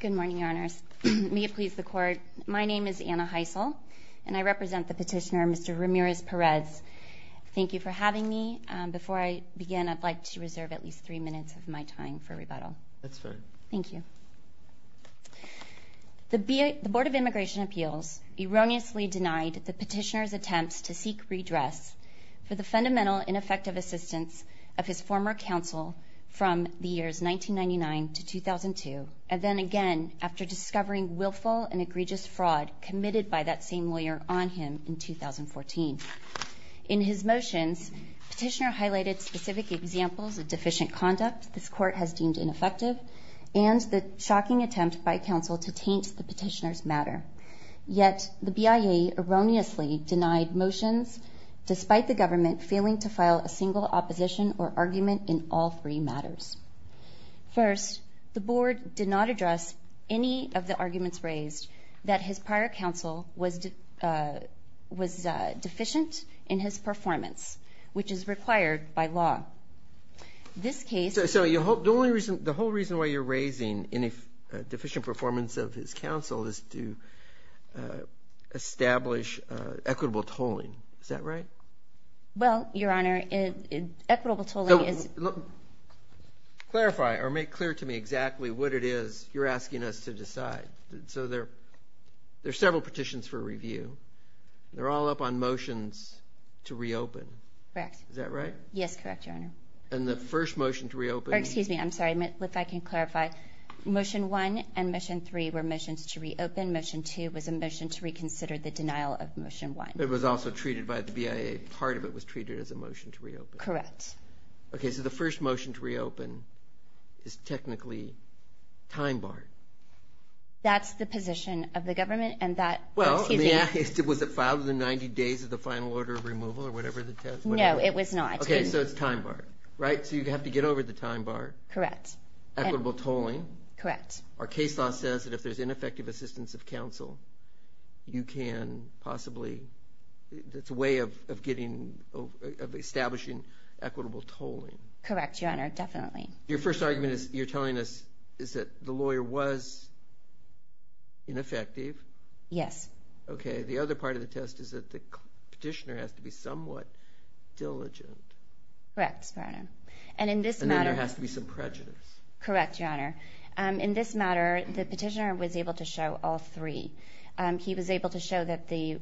Good morning, Your Honors. May it please the Court, my name is Anna Heisel, and I represent the petitioner Mr. Ramirez-Perez. Thank you for having me. Before I begin, I'd like to reserve at least three minutes of my time for rebuttal. That's fair. Thank you. The Board of Immigration Appeals erroneously denied the petitioner's attempts to seek redress for the fundamental ineffective assistance of his former counsel from the years 1999 to 2002, and then again after discovering willful and egregious fraud committed by that same lawyer on him in 2014. In his motions, the petitioner highlighted specific examples of deficient conduct this Court has deemed ineffective and the shocking attempt by counsel to taint the petitioner's matter. Yet the BIA erroneously denied motions, despite the government failing to file a single opposition or argument in all three matters. First, the Board did not address any of the arguments raised that his prior counsel was deficient in his performance, which is required by law. This case... Well, the whole reason why you're raising deficient performance of his counsel is to establish equitable tolling. Is that right? Well, Your Honor, equitable tolling is... Clarify or make clear to me exactly what it is you're asking us to decide. So there are several petitions for review. They're all up on motions to reopen. Correct. Is that right? Yes, correct, Your Honor. And the first motion to reopen... Excuse me, I'm sorry, if I can clarify. Motion one and motion three were motions to reopen. Motion two was a motion to reconsider the denial of motion one. It was also treated by the BIA, part of it was treated as a motion to reopen. Correct. Okay, so the first motion to reopen is technically time barred. That's the position of the government and that... Well, was it filed within 90 days of the final order of removal or whatever the test... No, it was not. Okay, so it's time barred, right? So you have to get over the time bar. Correct. Equitable tolling. Correct. Our case law says that if there's ineffective assistance of counsel, you can possibly... It's a way of establishing equitable tolling. Correct, Your Honor, definitely. Your first argument is you're telling us is that the lawyer was ineffective. Yes. Okay, the other part of the test is that the petitioner has to be somewhat diligent. Correct, Your Honor. And then there has to be some prejudice. Correct, Your Honor. In this matter, the petitioner was able to show all three. He was able to show that the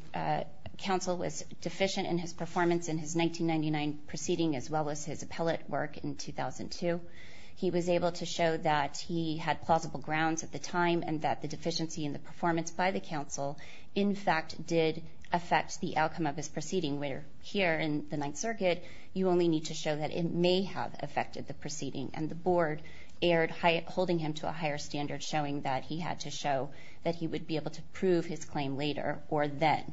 counsel was deficient in his performance in his 1999 proceeding as well as his appellate work in 2002. He was able to show that he had plausible grounds at the time and that the deficiency in the performance by the counsel, in fact, did affect the outcome of his proceeding, where here in the Ninth Circuit, you only need to show that it may have affected the proceeding. And the board erred, holding him to a higher standard, showing that he had to show that he would be able to prove his claim later or then.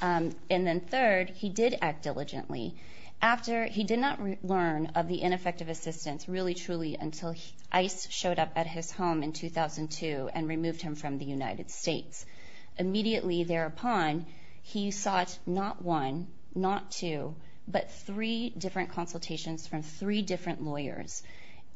And then third, he did act diligently. He did not learn of the ineffective assistance really truly until ICE showed up at his home in 2002 and removed him from the United States. Immediately thereupon, he sought not one, not two, but three different consultations from three different lawyers.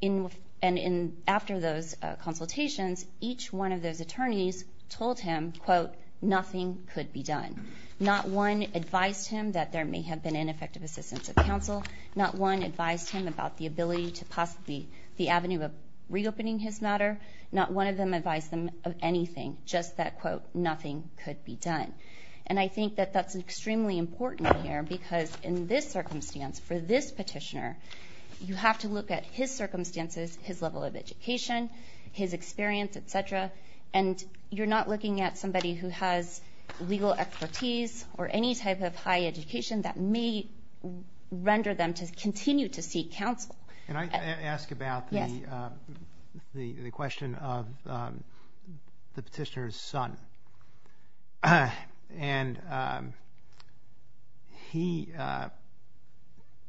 And after those consultations, each one of those attorneys told him, quote, nothing could be done. Not one advised him that there may have been ineffective assistance of counsel. Not one advised him about the ability to possibly the avenue of reopening his matter. Not one of them advised him of anything, just that, quote, nothing could be done. And I think that that's extremely important here because in this circumstance, for this petitioner, you have to look at his circumstances, his level of education, his experience, et cetera, and you're not looking at somebody who has legal expertise or any type of high education that may render them to continue to seek counsel. Can I ask about the question of the petitioner's son? And he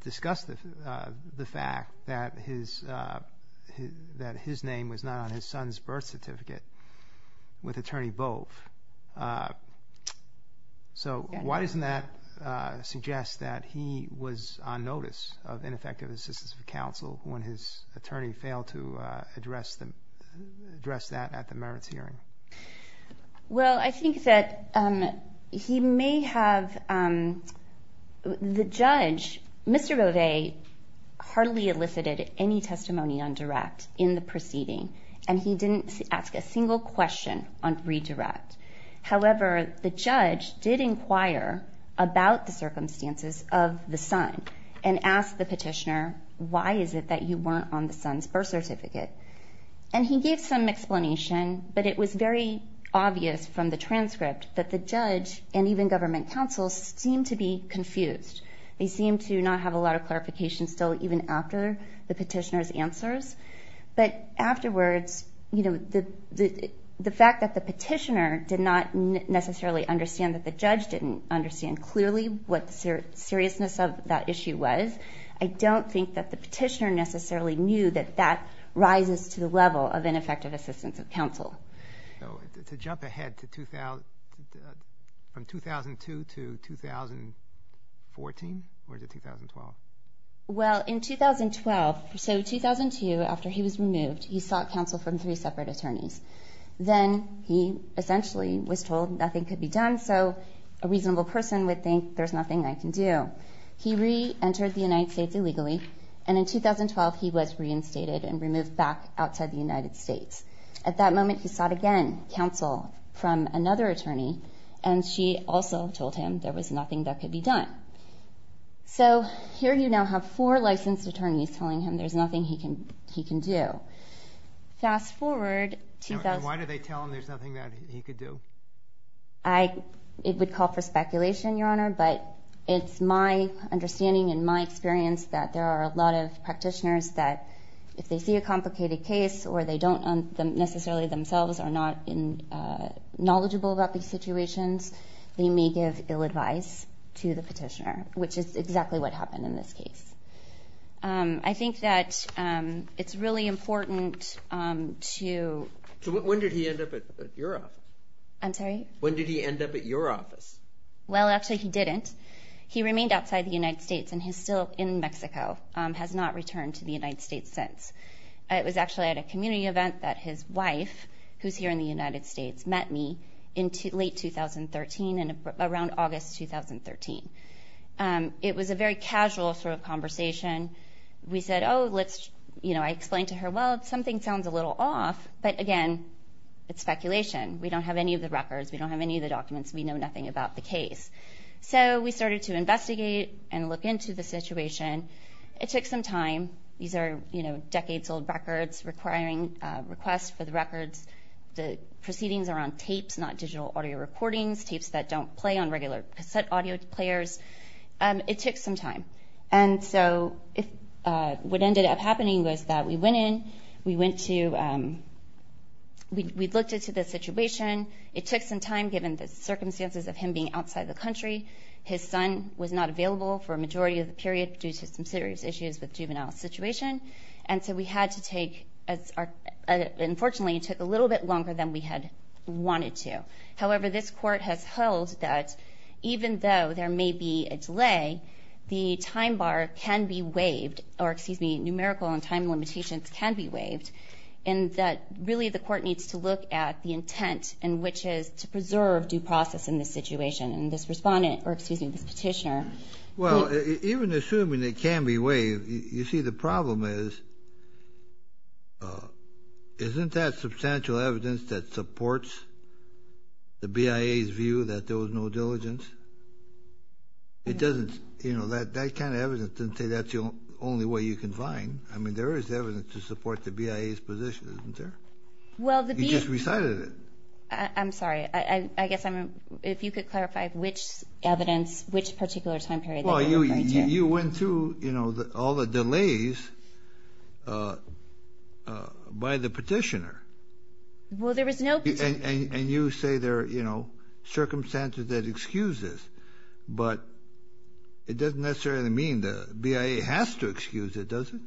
discussed the fact that his name was not on his son's birth certificate with Attorney Bove. So why doesn't that suggest that he was on notice of ineffective assistance of counsel when his attorney failed to address that at the merits hearing? Well, I think that he may have the judge, Mr. Bove hardly elicited any testimony on direct in the proceeding, and he didn't ask a single question on redirect. However, the judge did inquire about the circumstances of the son and asked the petitioner, why is it that you weren't on the son's birth certificate? And he gave some explanation, but it was very obvious from the transcript that the judge and even government counsel seemed to be confused. They seemed to not have a lot of clarification still even after the petitioner's answers. But afterwards, you know, the fact that the petitioner did not necessarily understand that the judge didn't understand clearly what the seriousness of that issue was, I don't think that the petitioner necessarily knew that that rises to the level of ineffective assistance of counsel. So to jump ahead from 2002 to 2014, or is it 2012? Well, in 2012, so 2002, after he was removed, he sought counsel from three separate attorneys. Then he essentially was told nothing could be done, so a reasonable person would think, there's nothing I can do. He reentered the United States illegally, and in 2012, he was reinstated and removed back outside the United States. At that moment, he sought again counsel from another attorney, and she also told him there was nothing that could be done. So here you now have four licensed attorneys telling him there's nothing he can do. Fast forward to that. And why did they tell him there's nothing that he could do? It would call for speculation, Your Honor, but it's my understanding and my experience that there are a lot of practitioners that if they see a complicated case or they don't necessarily themselves are not knowledgeable about these situations, they may give ill advice to the petitioner, which is exactly what happened in this case. I think that it's really important to— So when did he end up at your office? I'm sorry? When did he end up at your office? Well, actually, he didn't. He remained outside the United States, and he's still in Mexico, has not returned to the United States since. It was actually at a community event that his wife, who's here in the United States, met me in late 2013, around August 2013. It was a very casual sort of conversation. We said, oh, let's—I explained to her, well, something sounds a little off, but again, it's speculation. We don't have any of the records. We don't have any of the documents. We know nothing about the case. So we started to investigate and look into the situation. It took some time. These are decades-old records requiring requests for the records. The proceedings are on tapes, not digital audio recordings, tapes that don't play on regular cassette audio players. It took some time. And so what ended up happening was that we went in, we went to—we looked into the situation. It took some time, given the circumstances of him being outside the country. His son was not available for a majority of the period due to some serious issues with juvenile situation. And so we had to take—unfortunately, it took a little bit longer than we had wanted to. However, this Court has held that even though there may be a delay, the time bar can be waived, or excuse me, numerical and time limitations can be waived, and that really the Court needs to look at the intent, and which is to preserve due process in this situation. And this Respondent—or excuse me, this Petitioner— says, isn't that substantial evidence that supports the BIA's view that there was no diligence? It doesn't—you know, that kind of evidence doesn't say that's the only way you can find. I mean, there is evidence to support the BIA's position, isn't there? You just recited it. I'm sorry. I guess I'm—if you could clarify which evidence, which particular time period that you're referring to. You went through, you know, all the delays by the Petitioner. Well, there was no— And you say there are, you know, circumstances that excuse this, but it doesn't necessarily mean the BIA has to excuse it, does it?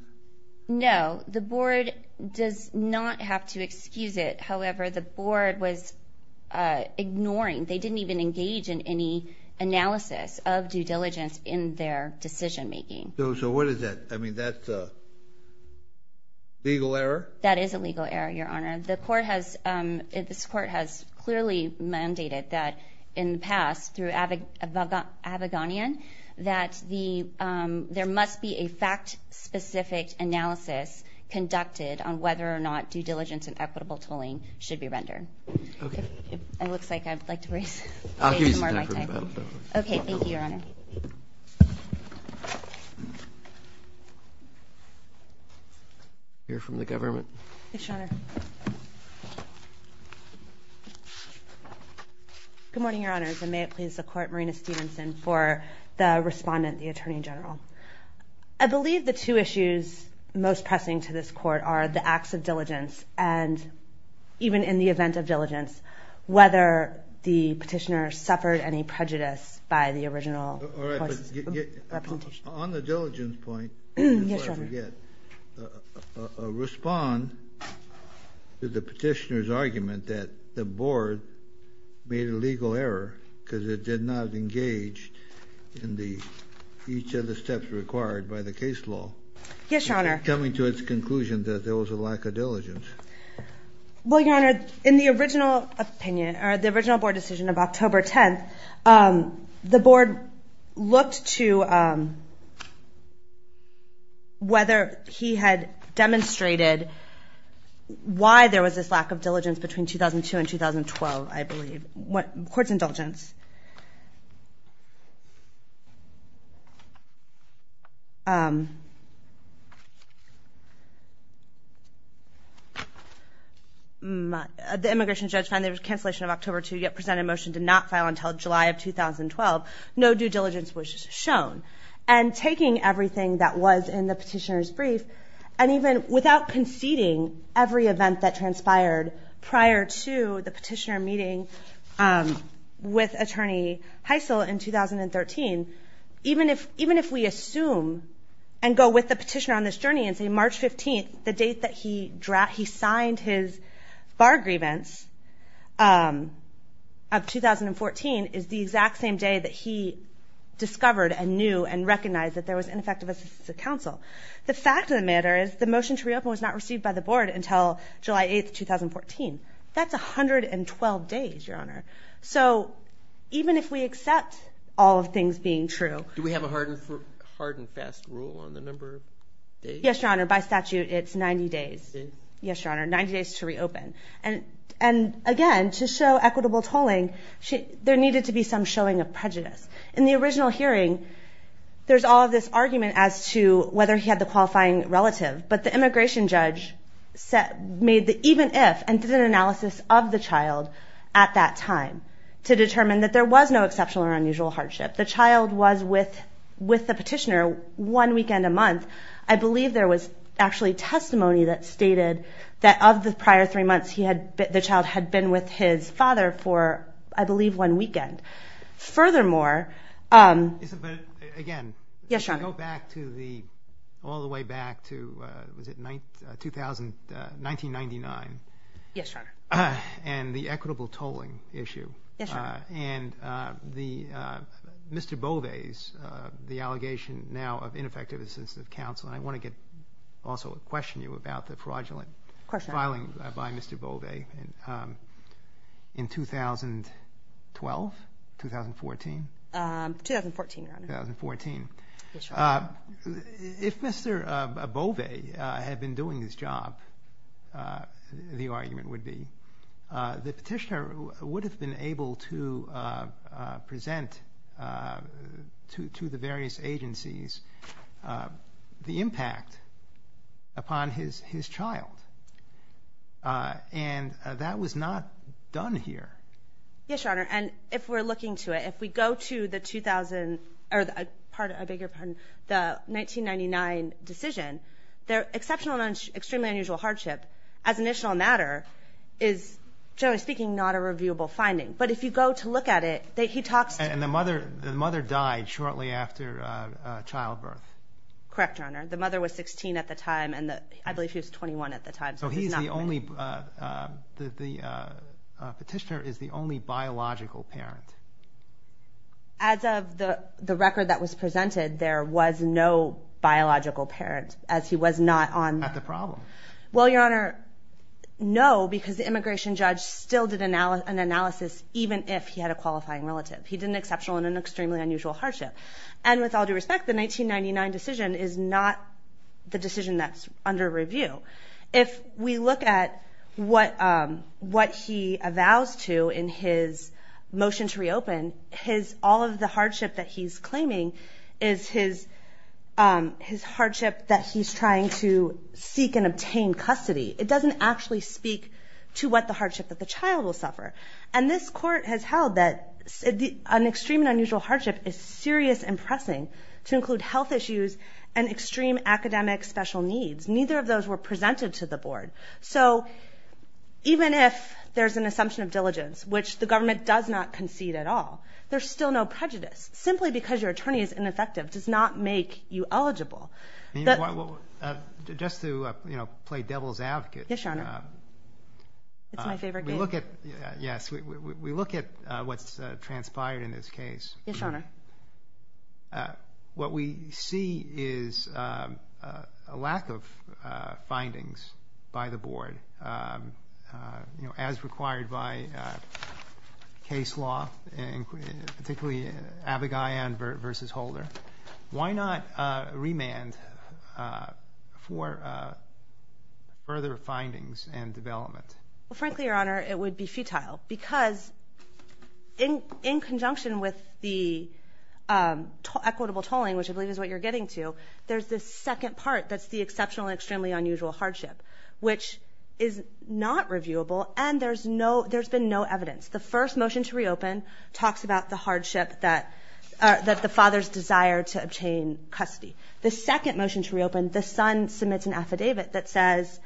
No, the Board does not have to excuse it. However, the Board was ignoring— So what is that? I mean, that's a legal error? That is a legal error, Your Honor. The Court has—this Court has clearly mandated that, in the past, through Abagonian, that there must be a fact-specific analysis conducted on whether or not due diligence and equitable tolling should be rendered. Okay. It looks like I'd like to raise more of my time. I'll give you some time for rebuttal. Okay, thank you, Your Honor. Thank you. Hear from the government. Yes, Your Honor. Good morning, Your Honors, and may it please the Court, Marina Stevenson, for the respondent, the Attorney General. I believe the two issues most pressing to this Court are the acts of diligence and, even in the event of diligence, whether the petitioner suffered any prejudice by the original representation. On the diligence point, before I forget, respond to the petitioner's argument that the Board made a legal error because it did not engage in each of the steps required by the case law. Yes, Your Honor. Well, Your Honor, in the original opinion, or the original Board decision of October 10th, the Board looked to whether he had demonstrated why there was this lack of diligence between 2002 and 2012, I believe. Court's indulgence. The immigration judge found there was a cancellation of October 2, yet presented a motion to not file until July of 2012. No due diligence was shown. And taking everything that was in the petitioner's brief, and even without conceding, every event that transpired prior to the petitioner meeting with Attorney Heisel in 2013, even if we assume and go with the petitioner on this journey and say March 15th, the date that he signed his bar grievance of 2014 is the exact same day that he discovered and knew and recognized that there was ineffective assistance of counsel. The fact of the matter is the motion to reopen was not received by the Board until July 8th, 2014. That's 112 days, Your Honor. So even if we accept all of things being true. Do we have a hard and fast rule on the number of days? Yes, Your Honor. By statute, it's 90 days. Yes, Your Honor. 90 days to reopen. In the original hearing, there's all of this argument as to whether he had the qualifying relative. But the immigration judge made the even if and did an analysis of the child at that time to determine that there was no exceptional or unusual hardship. The child was with the petitioner one weekend a month. I believe there was actually testimony that stated that of the prior three months, the child had been with his father for, I believe, one weekend. Furthermore. But again. Yes, Your Honor. Go back to the all the way back to was it 1999. Yes, Your Honor. And the equitable tolling issue. Yes, Your Honor. And Mr. Bove's, the allegation now of ineffective assistance of counsel. And I want to also question you about the fraudulent filing by Mr. Bove in 2012. 2014. 2014, Your Honor. 2014. Yes, Your Honor. If Mr. Bove had been doing his job, the argument would be, the petitioner would have been able to present to the various agencies the impact upon his child. And that was not done here. Yes, Your Honor. And if we're looking to it, if we go to the 2000, or a bigger pardon, the 1999 decision, the exceptional and extremely unusual hardship as an initial matter is, generally speaking, not a reviewable finding. But if you go to look at it, he talks to. And the mother died shortly after childbirth. Correct, Your Honor. The mother was 16 at the time, and I believe she was 21 at the time. So he's the only, the petitioner is the only biological parent. As of the record that was presented, there was no biological parent, as he was not on. Not the problem. Well, Your Honor, no, because the immigration judge still did an analysis, even if he had a qualifying relative. He did an exceptional and an extremely unusual hardship. And with all due respect, the 1999 decision is not the decision that's under review. If we look at what he avows to in his motion to reopen, all of the hardship that he's claiming is his hardship that he's trying to seek and obtain custody. It doesn't actually speak to what the hardship that the child will suffer. And this court has held that an extreme and unusual hardship is serious and pressing to include health issues and extreme academic special needs. Neither of those were presented to the board. So even if there's an assumption of diligence, which the government does not concede at all, there's still no prejudice. Simply because your attorney is ineffective does not make you eligible. Just to, you know, play devil's advocate. Yes, Your Honor. It's my favorite game. Yes, Your Honor. What we see is a lack of findings by the board, you know, as required by case law, particularly Abagayan versus Holder. Why not remand for further findings and development? Well, frankly, Your Honor, it would be futile. Because in conjunction with the equitable tolling, which I believe is what you're getting to, there's this second part that's the exceptional and extremely unusual hardship, which is not reviewable, and there's been no evidence. The first motion to reopen talks about the hardship that the father's desire to obtain custody. The second motion to reopen, the son submits an affidavit that says,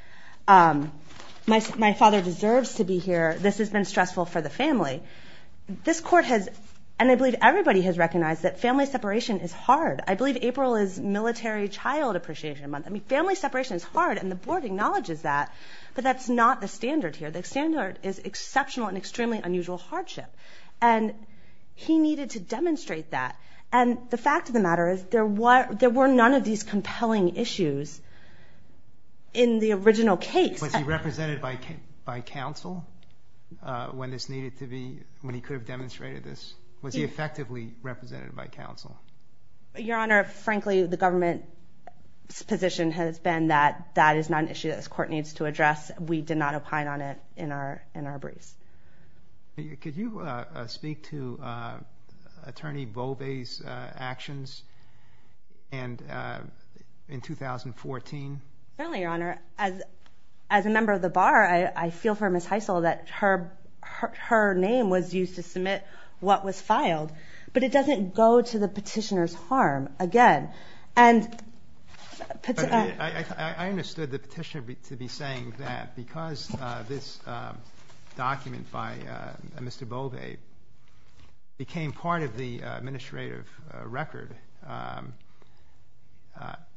My father deserves to be here. This has been stressful for the family. This court has, and I believe everybody has recognized that family separation is hard. I believe April is military child appreciation month. I mean, family separation is hard, and the board acknowledges that. But that's not the standard here. The standard is exceptional and extremely unusual hardship. And he needed to demonstrate that. And the fact of the matter is there were none of these compelling issues in the original case. Was he represented by counsel when this needed to be, when he could have demonstrated this? Was he effectively represented by counsel? Your Honor, frankly, the government's position has been that that is not an issue this court needs to address. We did not opine on it in our briefs. Could you speak to Attorney Bove's actions in 2014? Certainly, Your Honor. As a member of the bar, I feel for Ms. Heisel that her name was used to submit what was filed. But it doesn't go to the petitioner's harm, again. I understood the petitioner to be saying that because this document by Mr. Bove became part of the administrative record,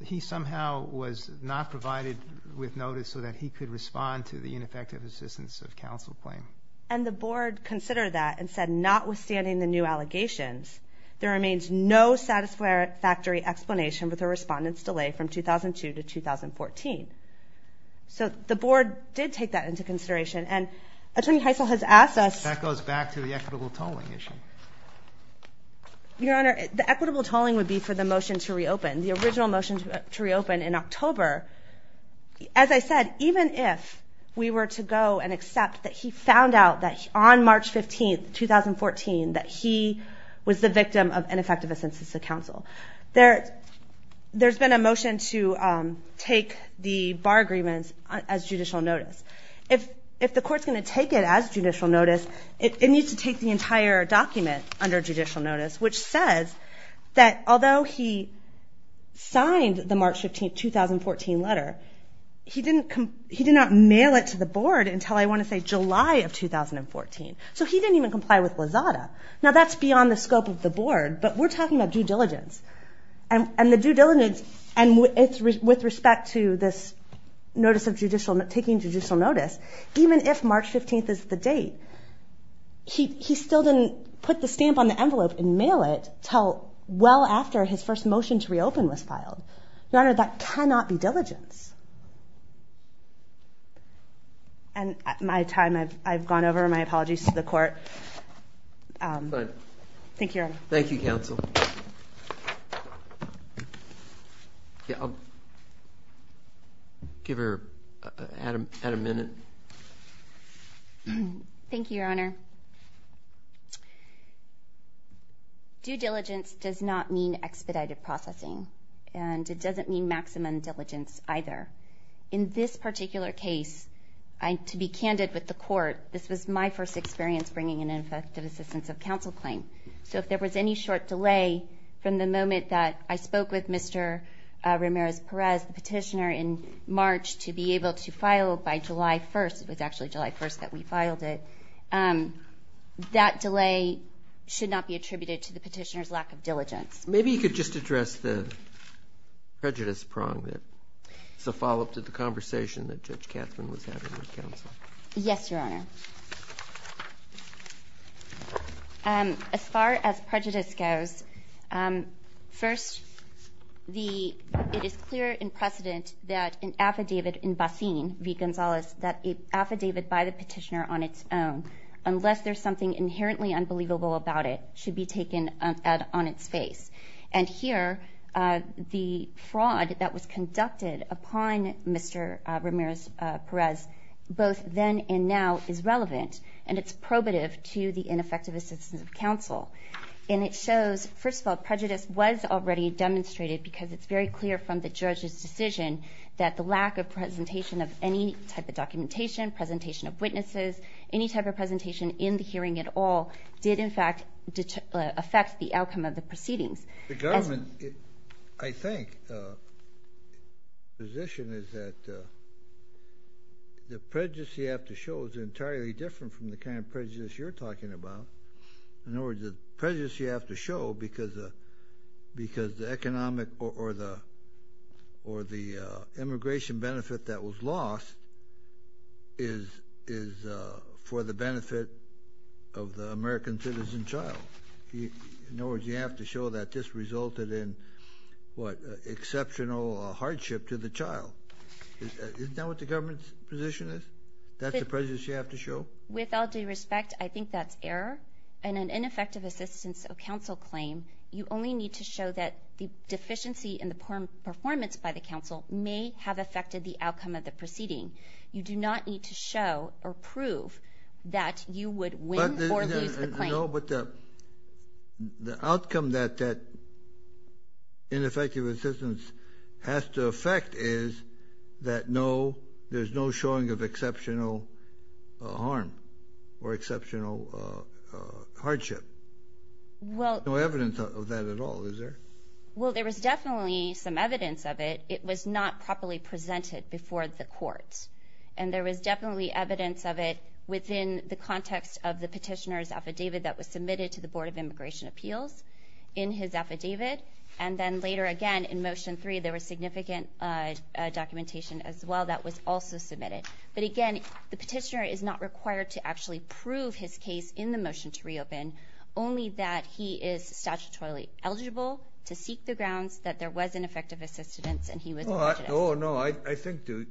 he somehow was not provided with notice so that he could respond to the ineffective assistance of counsel claim. And the board considered that and said notwithstanding the new allegations, there remains no satisfactory explanation with a respondent's delay from 2002 to 2014. So the board did take that into consideration. And Attorney Heisel has asked us – That goes back to the equitable tolling issue. Your Honor, the equitable tolling would be for the motion to reopen, the original motion to reopen in October. As I said, even if we were to go and accept that he found out that on March 15, 2014, that he was the victim of ineffective assistance of counsel, there's been a motion to take the bar agreements as judicial notice. If the court's going to take it as judicial notice, it needs to take the entire document under judicial notice, which says that although he signed the March 15, 2014 letter, he did not mail it to the board until, I want to say, July of 2014. So he didn't even comply with Lazada. Now, that's beyond the scope of the board, but we're talking about due diligence. And the due diligence, and with respect to this notice of taking judicial notice, even if March 15 is the date, he still didn't put the stamp on the envelope and mail it until well after his first motion to reopen was filed. Your Honor, that cannot be diligence. And my time, I've gone over my apologies to the court. Fine. Thank you, Your Honor. Thank you, counsel. I'll give her a minute. Thank you, Your Honor. Due diligence does not mean expedited processing, and it doesn't mean maximum diligence either. In this particular case, to be candid with the court, this was my first experience bringing an effective assistance of counsel claim. So if there was any short delay from the moment that I spoke with Mr. Ramirez-Perez, the petitioner, in March, to be able to file by July 1st, it was actually July 1st that we filed it, that delay should not be attributed to the petitioner's lack of diligence. Maybe you could just address the prejudice prong that is a follow-up to the conversation that Judge Katzman was having with counsel. Yes, Your Honor. As far as prejudice goes, first, it is clear in precedent that an affidavit in Basin v. Gonzales, that affidavit by the petitioner on its own, unless there's something inherently unbelievable about it, should be taken on its face. And here, the fraud that was conducted upon Mr. Ramirez-Perez, both then and now, is relevant and it's probative to the ineffective assistance of counsel. And it shows, first of all, prejudice was already demonstrated because it's very clear from the judge's decision that the lack of presentation of any type of documentation, presentation of witnesses, any type of presentation in the hearing at all, did, in fact, affect the outcome of the proceedings. The government, I think, position is that the prejudice you have to show is entirely different from the kind of prejudice you're talking about. In other words, the prejudice you have to show because the economic or the immigration benefit that was lost is for the benefit of the American citizen child. In other words, you have to show that this resulted in, what, exceptional hardship to the child. Isn't that what the government's position is? That's the prejudice you have to show? With all due respect, I think that's error. In an ineffective assistance of counsel claim, you only need to show that the deficiency in the performance by the counsel may have affected the outcome of the proceeding. You do not need to show or prove that you would win or lose the claim. No, but the outcome that ineffective assistance has to affect is that no, there's no showing of exceptional harm or exceptional hardship. There's no evidence of that at all, is there? Well, there was definitely some evidence of it. It was not properly presented before the courts, and there was definitely evidence of it within the context of the petitioner's affidavit that was submitted to the Board of Immigration Appeals in his affidavit. And then later, again, in Motion 3, there was significant documentation as well that was also submitted. But again, the petitioner is not required to actually prove his case in the motion to reopen, only that he is statutorily eligible to seek the grounds that there was ineffective assistance and he was prejudiced. Oh, no, I think to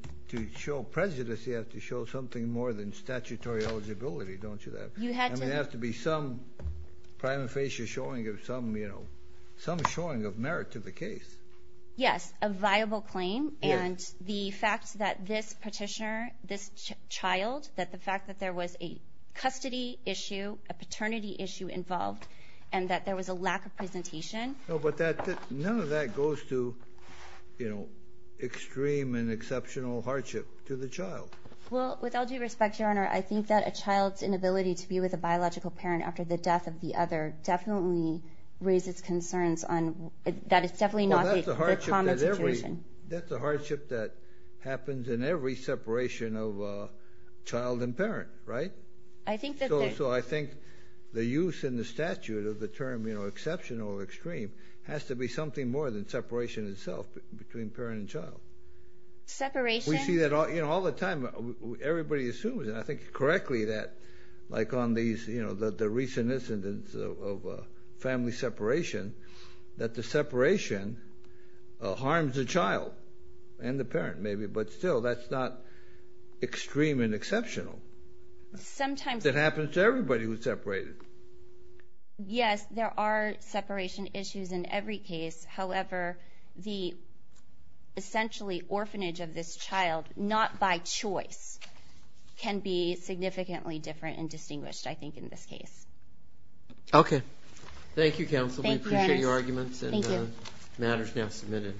show prejudice, you have to show something more than statutory eligibility, don't you, that there has to be some prima facie showing of some, you know, some showing of merit to the case. Yes, a viable claim, and the fact that this petitioner, this child, that the fact that there was a custody issue, a paternity issue involved, and that there was a lack of presentation. No, but none of that goes to, you know, extreme and exceptional hardship to the child. Well, with all due respect, Your Honor, I think that a child's inability to be with a biological parent after the death of the other definitely raises concerns on that it's definitely not a common situation. That's a hardship that happens in every separation of child and parent, right? I think that there is. So I think the use in the statute of the term, you know, exceptional or extreme has to be something more than separation itself between parent and child. Separation? We see that all the time. Everybody assumes, and I think correctly, that like on these, you know, the recent incidents of family separation, that the separation harms the child and the parent maybe, but still that's not extreme and exceptional. Sometimes. It happens to everybody who's separated. Yes, there are separation issues in every case. However, the essentially orphanage of this child, not by choice, can be significantly different and distinguished, I think, in this case. Okay. Thank you, counsel. We appreciate your arguments. Thank you. The matter is now submitted.